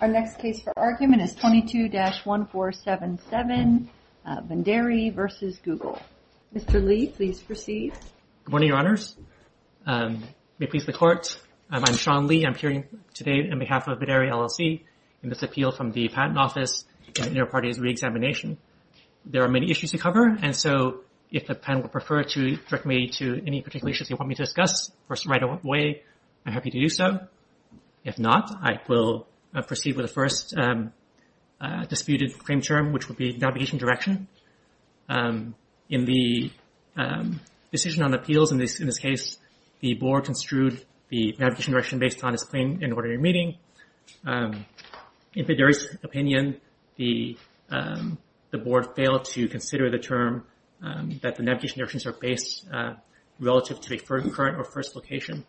Our next case for argument is 22-1477, Vederi v. Google. Mr. Lee, please proceed. Good morning, Your Honors. May it please the Court, I'm Sean Lee. I'm appearing today on behalf of Vederi, LLC in this appeal from the Patent Office in the Interparties Reexamination. There are many issues to cover, and so if the panel would prefer to direct me to any particular issues you want me to discuss first right away, I'm happy to do so. If not, I will proceed with the first disputed claim term, which would be navigation direction. In the decision on appeals in this case, the Board construed the navigation direction based on its plain and ordinary meaning. In Vederi's opinion, the Board failed to consider the term that the navigation directions are based relative to a current or first location.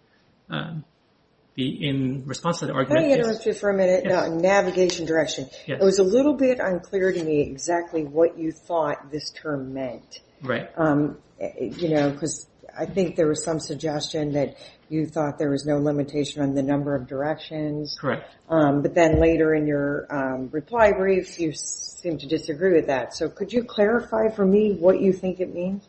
In response to the argument... Let me interrupt you for a minute. Navigation direction. It was a little bit unclear to me exactly what you thought this term meant. Right. You know, because I think there was some suggestion that you thought there was no limitation on the number of directions. Correct. But then later in your reply brief, you seemed to disagree with that. So could you clarify for me what you think it means?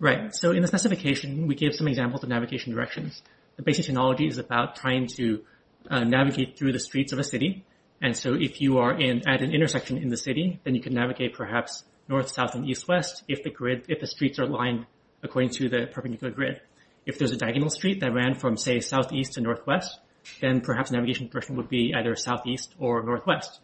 Right. So in the specification, we gave some examples of navigation directions. The basic technology is about trying to navigate through the streets of a city. And so if you are at an intersection in the city, then you can navigate perhaps north, south, and east, west if the streets are aligned according to the perpendicular grid. If there's a diagonal street that ran from, say, southeast to northwest, then perhaps navigation direction would be either southeast or northwest.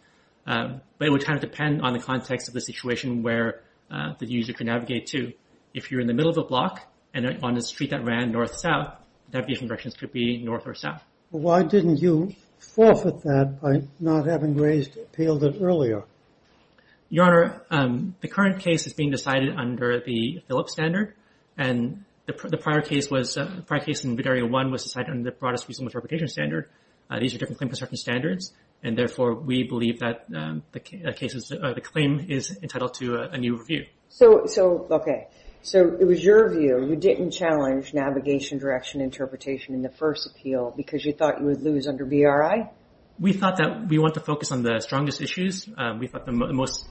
But it would kind of depend on the context of the situation where the user can navigate to. If you're in the middle of a block and on a street that ran north, south, navigation directions could be north or south. Why didn't you forfeit that by not having appealed it earlier? Your Honor, the current case is being decided under the Phillips standard. And the prior case in Area 1 was decided under the broadest reasonable interpretation standard. These are different claim construction standards. And therefore, we believe that the claim is entitled to a new review. So, okay. So it was your view. You didn't challenge navigation direction interpretation in the first appeal because you thought you would lose under BRI? We thought that we want to focus on the strongest issues. We thought the most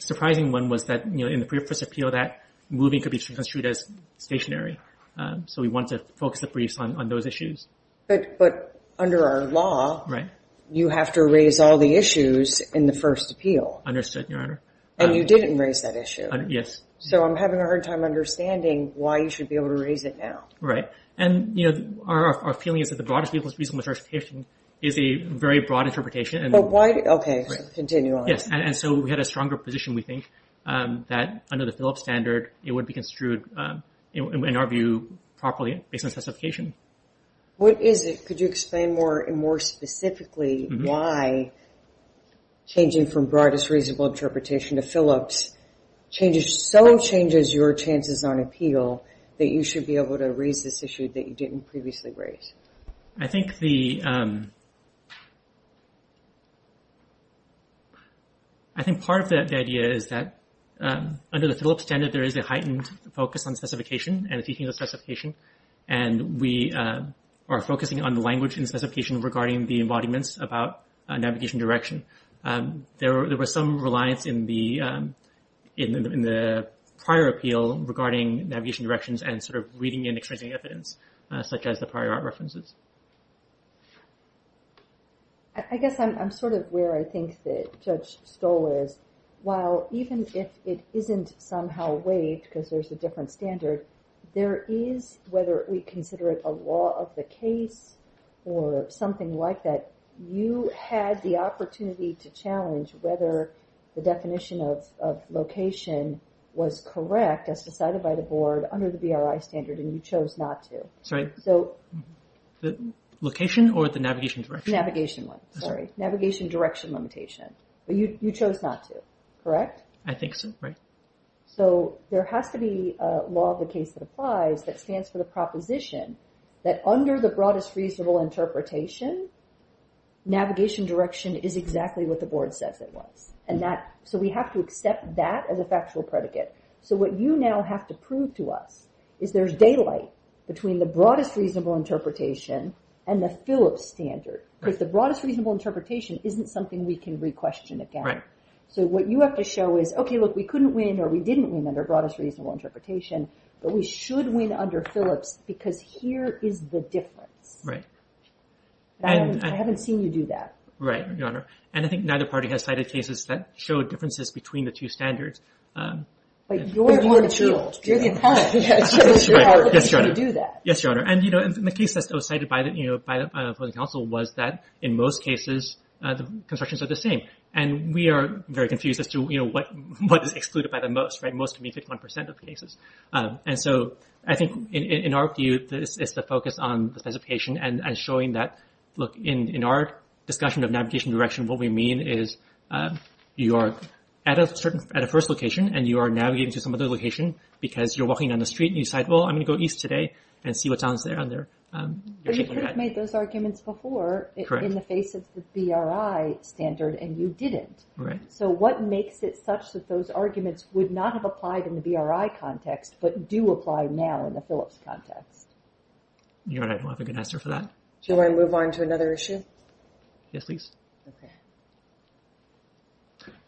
surprising one was that in the previous appeal that moving could be construed as stationary. So we want to focus the briefs on those issues. But under our law, you have to raise all the issues in the first appeal. Understood, Your Honor. And you didn't raise that issue. Yes. So I'm having a hard time understanding why you should be able to raise it now. Right. And our feeling is that the broadest reasonable interpretation is a very broad interpretation. But why? Okay, continue on. Yes, and so we had a stronger position, we think, that under the Phillips standard, it would be construed, in our view, properly based on specification. What is it? Could you explain more specifically why changing from broadest reasonable interpretation to Phillips so changes your chances on appeal that you should be able to raise this issue that you didn't previously raise? I think the, I think part of the idea is that under the Phillips standard, there is a heightened focus on specification and the teaching of specification. And we are focusing on the language and specification regarding the embodiments about navigation direction. There was some reliance in the prior appeal regarding navigation directions and sort of reading and experiencing evidence, such as the prior art references. I guess I'm sort of where I think that Judge Stoll is. While even if it isn't somehow waived, because there's a different standard, there is, whether we consider it a law of the case or something like that, you had the opportunity to challenge whether the definition of location was correct as decided by the board under the BRI standard and you chose not to. Sorry? Location or the navigation direction? Navigation one, sorry. Navigation direction limitation. But you chose not to, correct? I think so, right. So there has to be a law of the case that applies that stands for the proposition that under the Broadest Reasonable Interpretation, navigation direction is exactly what the board says it was. So we have to accept that as a factual predicate. So what you now have to prove to us is there's daylight between the Broadest Reasonable Interpretation and the Phillips standard. Because the Broadest Reasonable Interpretation isn't something we can re-question again. So what you have to show is, okay, look, we couldn't win or we didn't win under Broadest Reasonable Interpretation, but we should win under Phillips because here is the difference. Right. And I haven't seen you do that. Right, Your Honor. And I think neither party has cited cases that show differences between the two standards. But you're the appellate. You're the appellate. Yes, Your Honor. Yes, Your Honor. And the case that was cited by the council was that in most cases, the constructions are the same. And we are very confused as to what is excluded by the most. Most to me, 51% of the cases. And so I think in our view, this is the focus on the specification and showing that, look, in our discussion of navigation direction, what we mean is you are at a first location and you are navigating to some other location because you're walking down the street and you decide, well, I'm gonna go east today and see what's on there. But you could have made those arguments before in the face of the BRI standard and you didn't. So what makes it such that those arguments would not have applied in the BRI context but do apply now in the Phillips context? Your Honor, I don't have a good answer for that. Do you wanna move on to another issue? Yes, please.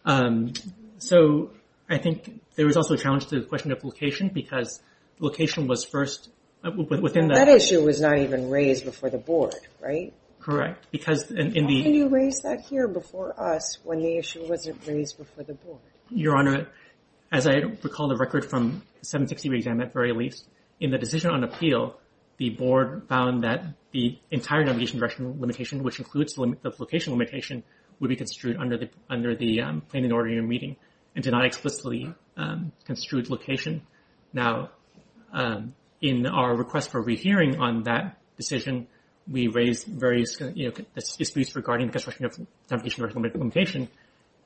Okay. So I think there was also a challenge to the question of location because location was first, within that- That issue was not even raised before the board, right? Correct, because in the- Why didn't you raise that here before us when the issue wasn't raised before the board? Your Honor, as I recall the record from 760 re-exam at very least, in the decision on appeal, the board found that the entire navigation direction limitation, which includes the location limitation, would be construed under the plan and order you're meeting and did not explicitly construed location. Now, in our request for rehearing on that decision, we raised various disputes regarding the construction of navigation direction limitation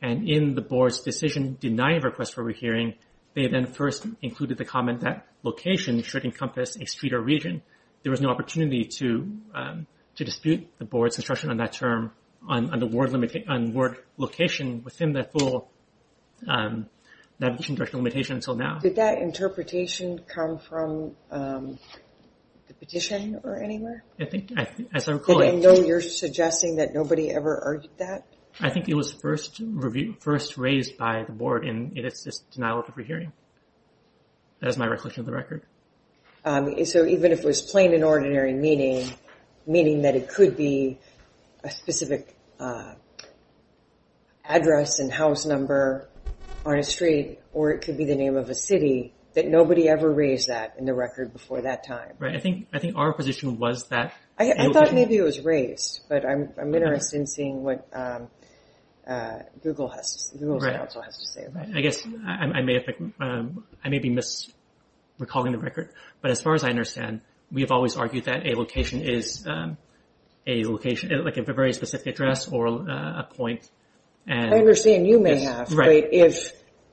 and in the board's decision denying request for rehearing, they then first included the comment that location should encompass a street or region. There was no opportunity to dispute the board's construction on that term on the word location within the full navigation direction limitation until now. Did that interpretation come from the petition or anywhere? I think, as I recall- Did they know you're suggesting that nobody ever argued that? I think it was first raised by the board and it's just denial of rehearing. That is my recollection of the record. So, even if it was plain and ordinary meaning, meaning that it could be a specific address and house number on a street or it could be the name of a city, that nobody ever raised that in the record before that time? Right, I think our position was that- I thought maybe it was raised, but I'm interested in seeing what Google's counsel has to say about it. I guess I may be misrecalling the record, but as far as I understand, we have always argued that a location is a location, like a very specific address or a point. I understand you may have, but if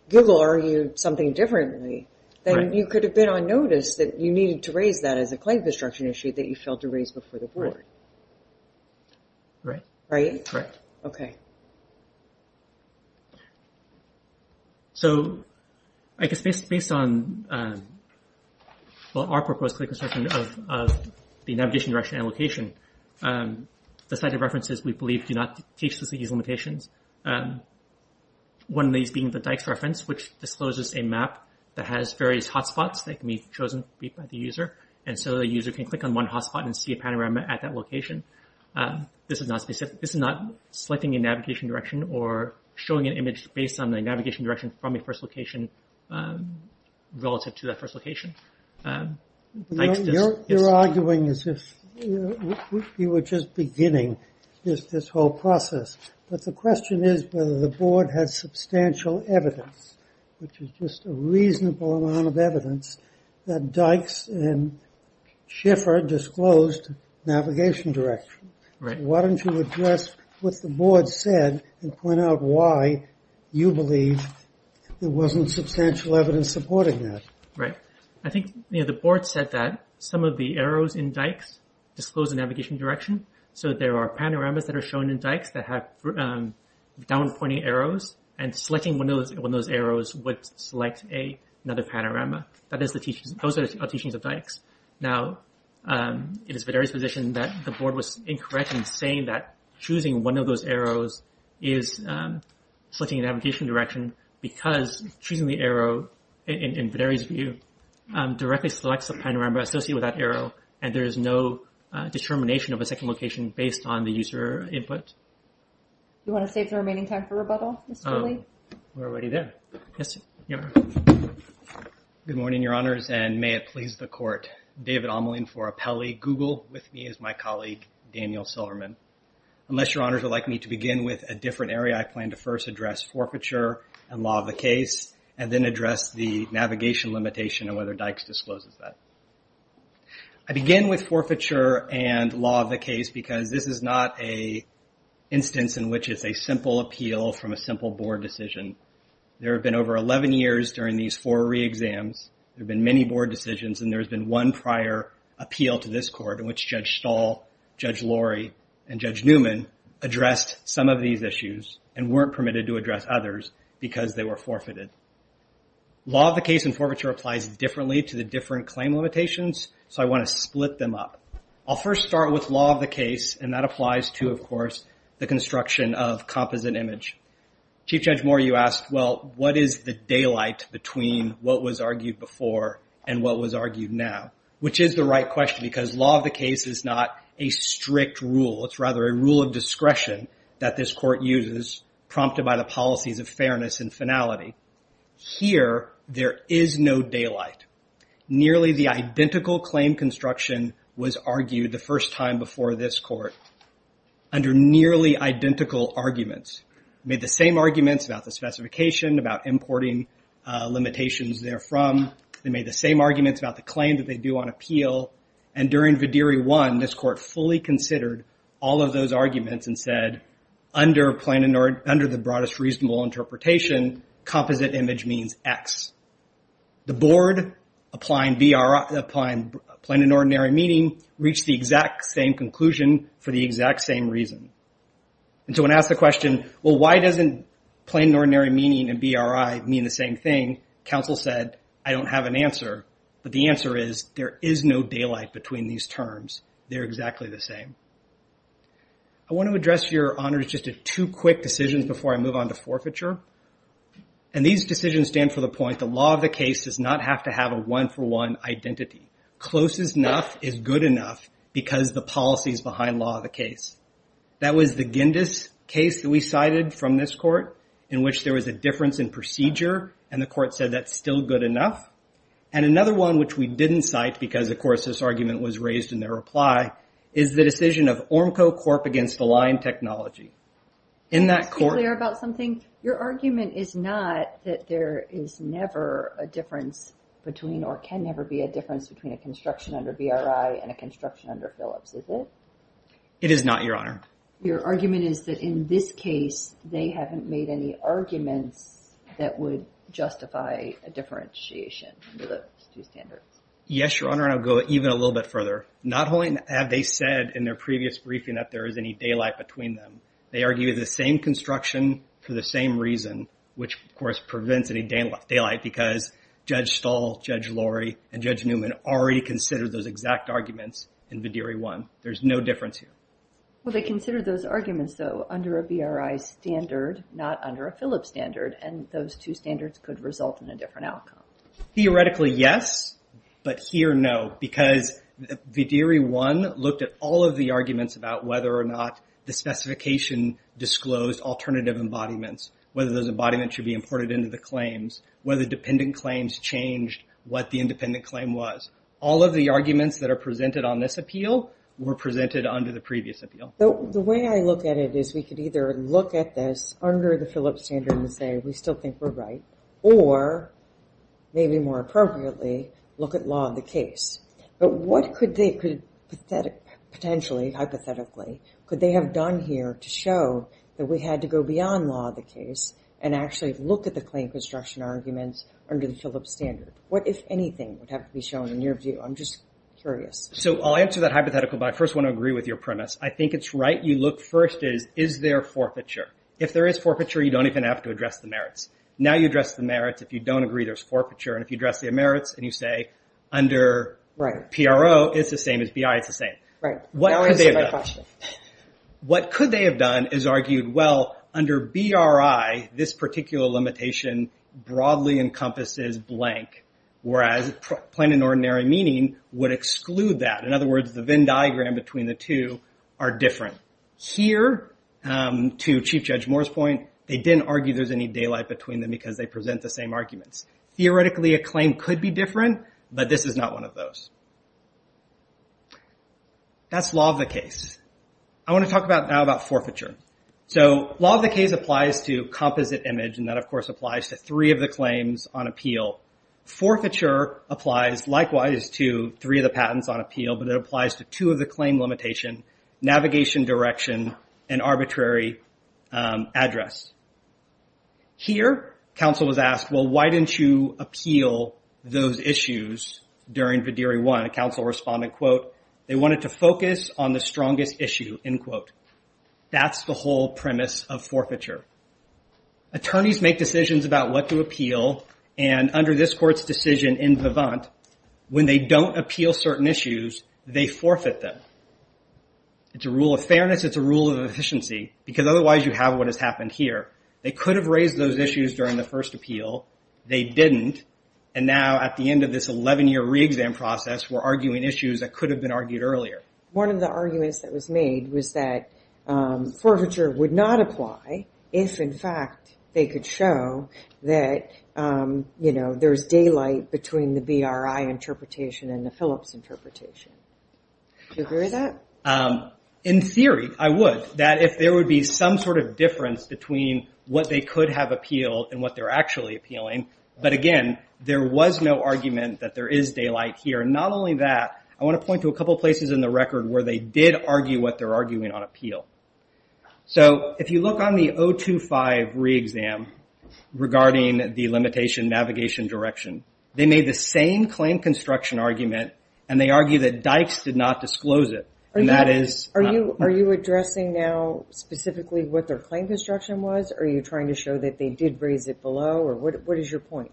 Google argued something differently, then you could have been on notice as a claim construction issue that you failed to raise before the board. Right? Right. Okay. So, I guess based on well, our proposed claim construction of the navigation direction and location, the cited references we believe do not teach us these limitations. One of these being the Dykes reference, which discloses a map that has various hotspots that can be chosen by the user. And so the user can click on one hotspot and see a panorama at that location. This is not selecting a navigation direction or showing an image based on the navigation direction from a first location relative to that first location. You're arguing as if you were just beginning this whole process. But the question is whether the board has substantial evidence, which is just a reasonable amount of evidence that Dykes and Schiffer disclosed navigation direction. Why don't you address what the board said and point out why you believe there wasn't substantial evidence supporting that. Right. I think the board said that some of the arrows in Dykes disclose a navigation direction. So there are panoramas that are shown in Dykes that have down pointing arrows and selecting one of those arrows would select another panorama. Those are the teachings of Dykes. Now, it is Videri's position that the board was incorrect in saying that choosing one of those arrows is selecting a navigation direction because choosing the arrow, in Videri's view, directly selects a panorama associated with that arrow and there is no determination of a second location based on the user input. You want to save the remaining time for rebuttal, Mr. Lee? We're already there. Good morning, your honors, and may it please the court. David Omelin for Apelli. Google with me is my colleague, Daniel Silverman. Unless your honors would like me to begin with a different area, I plan to first address forfeiture and law of the case and then address the navigation limitation and whether Dykes discloses that. I begin with forfeiture and law of the case because this is not a instance in which it's a simple appeal from a simple board decision. There have been over 11 years during these four re-exams, there have been many board decisions, and there has been one prior appeal to this court in which Judge Stahl, Judge Lurie, and Judge Newman addressed some of these issues and weren't permitted to address others because they were forfeited. Law of the case and forfeiture applies differently to the different claim limitations, so I want to split them up. I'll first start with law of the case and that applies to, of course, the construction of composite image. Chief Judge Moore, you asked, well, what is the daylight between what was argued before and what was argued now? Which is the right question because law of the case is not a strict rule. It's rather a rule of discretion that this court uses prompted by the policies of fairness and finality. Here, there is no daylight. Nearly the identical claim construction was argued the first time before this court under nearly identical arguments. They made the same arguments about the specification, about importing limitations therefrom. They made the same arguments about the claim that they do on appeal, and during Vidiri I, this court fully considered all of those arguments and said, under the broadest reasonable interpretation, composite image means X. The board, applying plain and ordinary meaning, reached the exact same conclusion for the exact same reason. And so when asked the question, well, why doesn't plain and ordinary meaning and BRI mean the same thing, counsel said, I don't have an answer. But the answer is, there is no daylight between these terms. They're exactly the same. I want to address, Your Honor, just two quick decisions before I move on to forfeiture. And these decisions stand for the point that law of the case does not have to have a one-for-one identity. Close enough is good enough because the policies behind law of the case. That was the Gindis case that we cited from this court in which there was a difference in procedure, and the court said that's still good enough. And another one which we didn't cite because, of course, this argument was raised in their reply is the decision of ORMCO Corp. against Align Technology. In that court- Can I just be clear about something? Your argument is not that there is never a difference between, or can never be a difference between a construction under BRI and a construction under Phillips, is it? It is not, Your Honor. Your argument is that in this case, they haven't made any arguments that would justify a differentiation under those two standards. Yes, Your Honor, and I'll go even a little bit further. Not only have they said in their previous briefing that there is any daylight between them, they argue the same construction for the same reason, which, of course, prevents any daylight because Judge Stahl, Judge Lurie, and Judge Newman already considered those exact arguments in Badiri 1. There's no difference here. Well, they considered those arguments, though, under a BRI standard, not under a Phillips standard, and those two standards could result in a different outcome. Theoretically, yes, but here, no, because Badiri 1 looked at all of the arguments about whether or not the specification disclosed alternative embodiments, whether those embodiments should be imported into the claims, whether dependent claims changed what the independent claim was. All of the arguments that are presented on this appeal were presented under the previous appeal. The way I look at it is we could either look at this under the Phillips standard and say, we still think we're right, or maybe more appropriately, look at law of the case, but what could they, potentially, hypothetically, could they have done here to show that we had to go beyond law of the case and actually look at the claim construction arguments under the Phillips standard? What, if anything, would have to be shown in your view? I'm just curious. So I'll answer that hypothetical, but I first want to agree with your premise. I think it's right. You look first is, is there forfeiture? If there is forfeiture, you don't even have to address the merits. Now you address the merits. If you don't agree, there's forfeiture, and if you address the merits and you say, under PRO, it's the same as BI, it's the same. Right. What could they have done? What could they have done is argued, well, under BRI, this particular limitation broadly encompasses blank, whereas plain and ordinary meaning would exclude that. In other words, the Venn diagram between the two are different. Here, to Chief Judge Moore's point, they didn't argue there's any daylight between them because they present the same arguments. Theoretically, a claim could be different, but this is not one of those. That's law of the case. I want to talk now about forfeiture. So law of the case applies to composite image, and that of course applies to three of the claims on appeal. Forfeiture applies, likewise, to three of the patents on appeal, but it applies to two of the claim limitation, navigation direction, and arbitrary address. Here, counsel was asked, well, why didn't you appeal those issues during Vidiri I? Counsel responded, quote, they wanted to focus on the strongest issue, end quote. That's the whole premise of forfeiture. Attorneys make decisions about what to appeal, and under this court's decision in Vivant, when they don't appeal certain issues, they forfeit them. It's a rule of fairness, it's a rule of efficiency, because otherwise you have what has happened here. They could have raised those issues during the first appeal. They didn't, and now at the end of this 11-year re-exam process, we're arguing issues that could have been argued earlier. One of the arguments that was made was that forfeiture would not apply if, in fact, they could show that there's daylight between the BRI interpretation and the Phillips interpretation. Do you agree with that? In theory, I would. That if there would be some sort of difference between what they could have appealed and what they're actually appealing, but again, there was no argument that there is daylight here. Not only that, I wanna point to a couple places in the record where they did argue what they're arguing on appeal. So if you look on the 025 re-exam regarding the limitation navigation direction, they made the same claim construction argument, and they argue that Dykes did not disclose it, and that is not true. Are you addressing now specifically what their claim construction was, or are you trying to show that they did raise it below, or what is your point?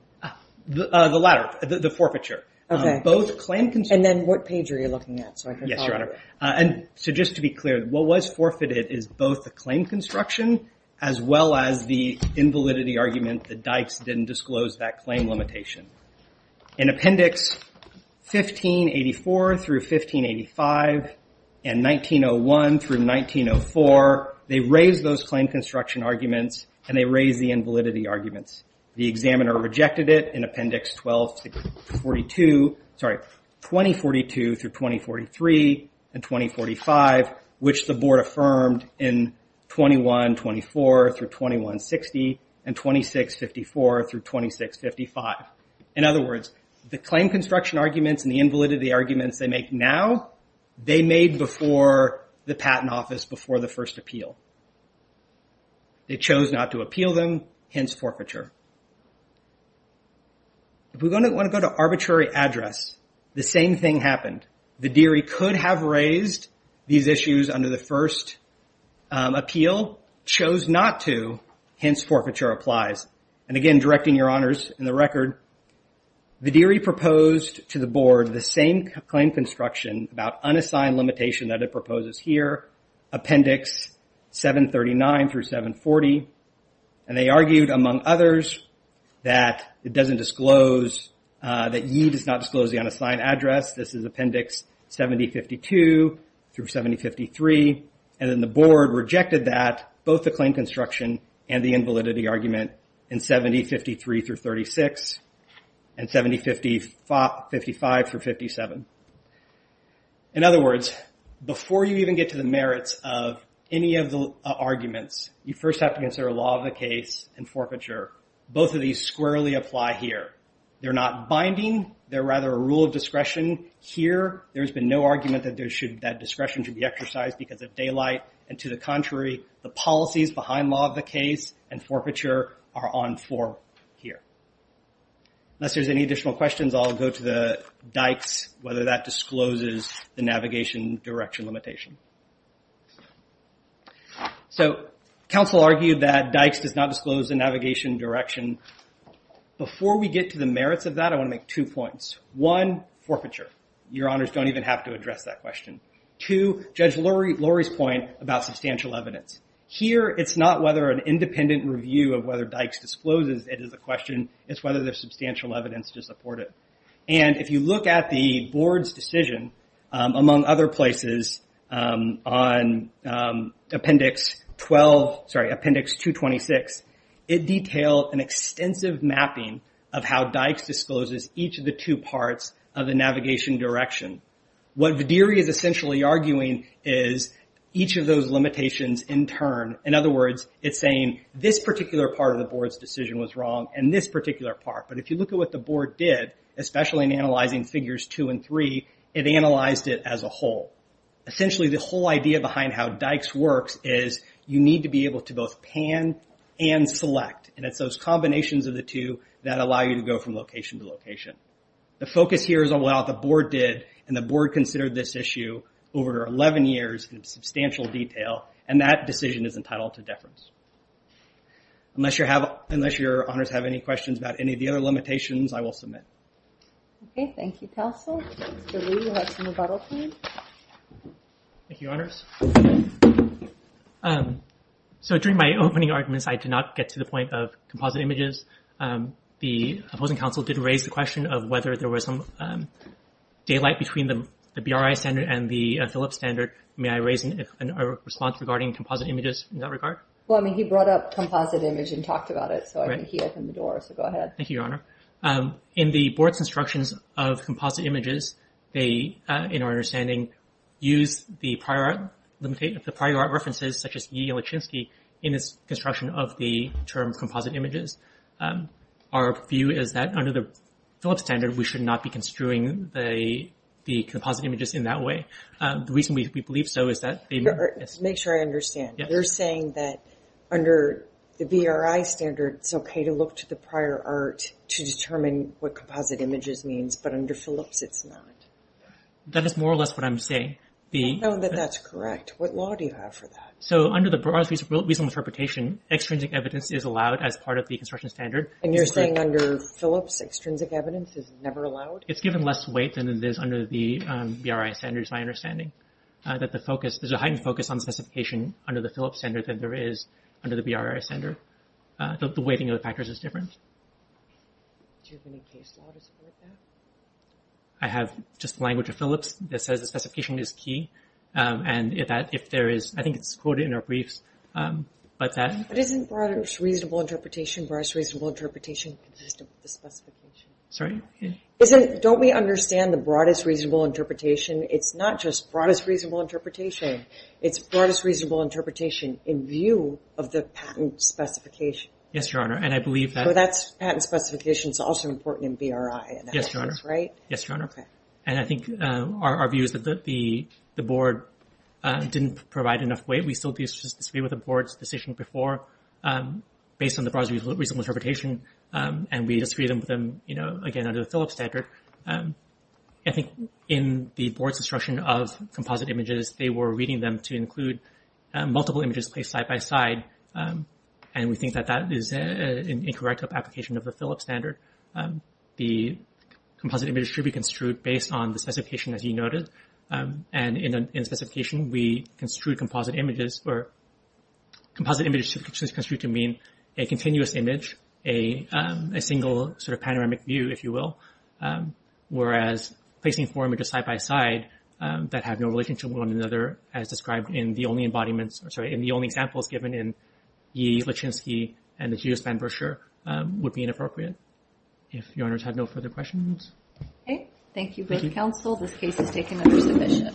The latter, the forfeiture. Okay. Both claim construction. And then what page are you looking at? Yes, your honor. And so just to be clear, what was forfeited is both the claim construction as well as the invalidity argument that Dykes didn't disclose that claim limitation. In appendix 1584 through 1585, and 1901 through 1904, they raised those claim construction arguments, and they raised the invalidity arguments. The examiner rejected it in appendix 1242, sorry, 2042 through 2043 and 2045, which the board affirmed in 2124 through 2160, and 2654 through 2655. In other words, the claim construction arguments and the invalidity arguments they make now, they made before the patent office, before the first appeal. They chose not to appeal them, hence forfeiture. If we want to go to arbitrary address, the same thing happened. The deary could have raised these issues under the first appeal, chose not to, hence forfeiture applies. And again, directing your honors in the record, the deary proposed to the board the same claim construction about unassigned limitation that it proposes here, appendix 739 through 740, and they argued, among others, that it doesn't disclose, that ye does not disclose the unassigned address, this is appendix 7052 through 7053, and then the board rejected that, both the claim construction and the invalidity argument in 7053 through 36, and 7055 through 57. In other words, before you even get to the merits of any of the arguments, you first have to consider law of the case and forfeiture. Both of these squarely apply here. They're not binding, they're rather a rule of discretion. Here, there's been no argument that that discretion should be exercised because of daylight, and to the contrary, the policies behind law of the case and forfeiture are on for here. Unless there's any additional questions, I'll go to the dikes, whether that discloses the navigation direction limitation. So, council argued that dikes does not disclose the navigation direction. Before we get to the merits of that, I wanna make two points. One, forfeiture. Your honors don't even have to address that question. Two, Judge Lurie's point about substantial evidence. Here, it's not whether an independent review of whether dikes discloses it is a question, it's whether there's substantial evidence to support it. And if you look at the board's decision, among other places, on appendix 12, sorry, appendix 226, it detailed an extensive mapping of how dikes discloses each of the two parts of the navigation direction. What Vadiri is essentially arguing is each of those limitations in turn. In other words, it's saying this particular part of the board's decision was wrong, and this particular part. But if you look at what the board did, especially in analyzing figures two and three, it analyzed it as a whole. Essentially, the whole idea behind how dikes works is you need to be able to both pan and select. And it's those combinations of the two that allow you to go from location to location. The focus here is on what the board did, and the board considered this issue over 11 years in substantial detail, and that decision is entitled to deference. Unless your honors have any questions about any of the other limitations, I will submit. Okay, thank you, counsel. Mr. Liu, you have some rebuttal time. Thank you, your honors. So during my opening arguments, I did not get to the point of composite images. The opposing counsel did raise the question of whether there was some daylight between the BRI standard and the Phillips standard. May I raise a response regarding composite images in that regard? Well, I mean, he brought up composite image and talked about it, so I think he opened the door, so go ahead. Thank you, your honor. In the board's instructions of composite images, they, in our understanding, use the prior art references, such as Yi and Lachinsky, in its construction of the term composite images. Our view is that under the Phillips standard, we should not be construing the composite images in that way. The reason we believe so is that they... Make sure I understand. You're saying that under the BRI standard, it's okay to look to the prior art to determine what composite images means, but under Phillips, it's not? That is more or less what I'm saying. I don't know that that's correct. What law do you have for that? So under the broad reasonable interpretation, extrinsic evidence is allowed as part of the construction standard. And you're saying under Phillips, extrinsic evidence is never allowed? It's given less weight than it is under the BRI standard, is my understanding. That the focus, there's a heightened focus on specification under the Phillips standard than there is under the BRI standard. The weighting of the factors is different. Do you have any case law to support that? I have just language of Phillips that says the specification is key. And if that, if there is, I think it's quoted in our briefs. But that- But isn't broadest reasonable interpretation broadest reasonable interpretation consistent with the specification? Sorry? Don't we understand the broadest reasonable interpretation? It's not just broadest reasonable interpretation. It's broadest reasonable interpretation in view of the patent specification. Yes, Your Honor. And I believe that- So that patent specification is also important in BRI. Yes, Your Honor. And that makes sense, right? Yes, Your Honor. Okay. And I think our view is that the board didn't provide enough weight. We still disagree with the board's decision before based on the broadest reasonable interpretation. And we disagree with them, again, under the Phillips standard. I think in the board's instruction of composite images, they were reading them to include multiple images placed side by side. And we think that that is an incorrect application of the Phillips standard. The composite image should be construed based on the specification, as you noted. And in the specification, we construed composite images or composite images should be construed to mean a continuous image, a single sort of panoramic view, if you will. Whereas placing four images side by side that have no relation to one another as described in the only embodiments, or sorry, in the only examples given in Yee, Lachinsky, and the Geospan brochure would be inappropriate. If Your Honors have no further questions. Okay. Thank you, both counsel. This case is taken under submission.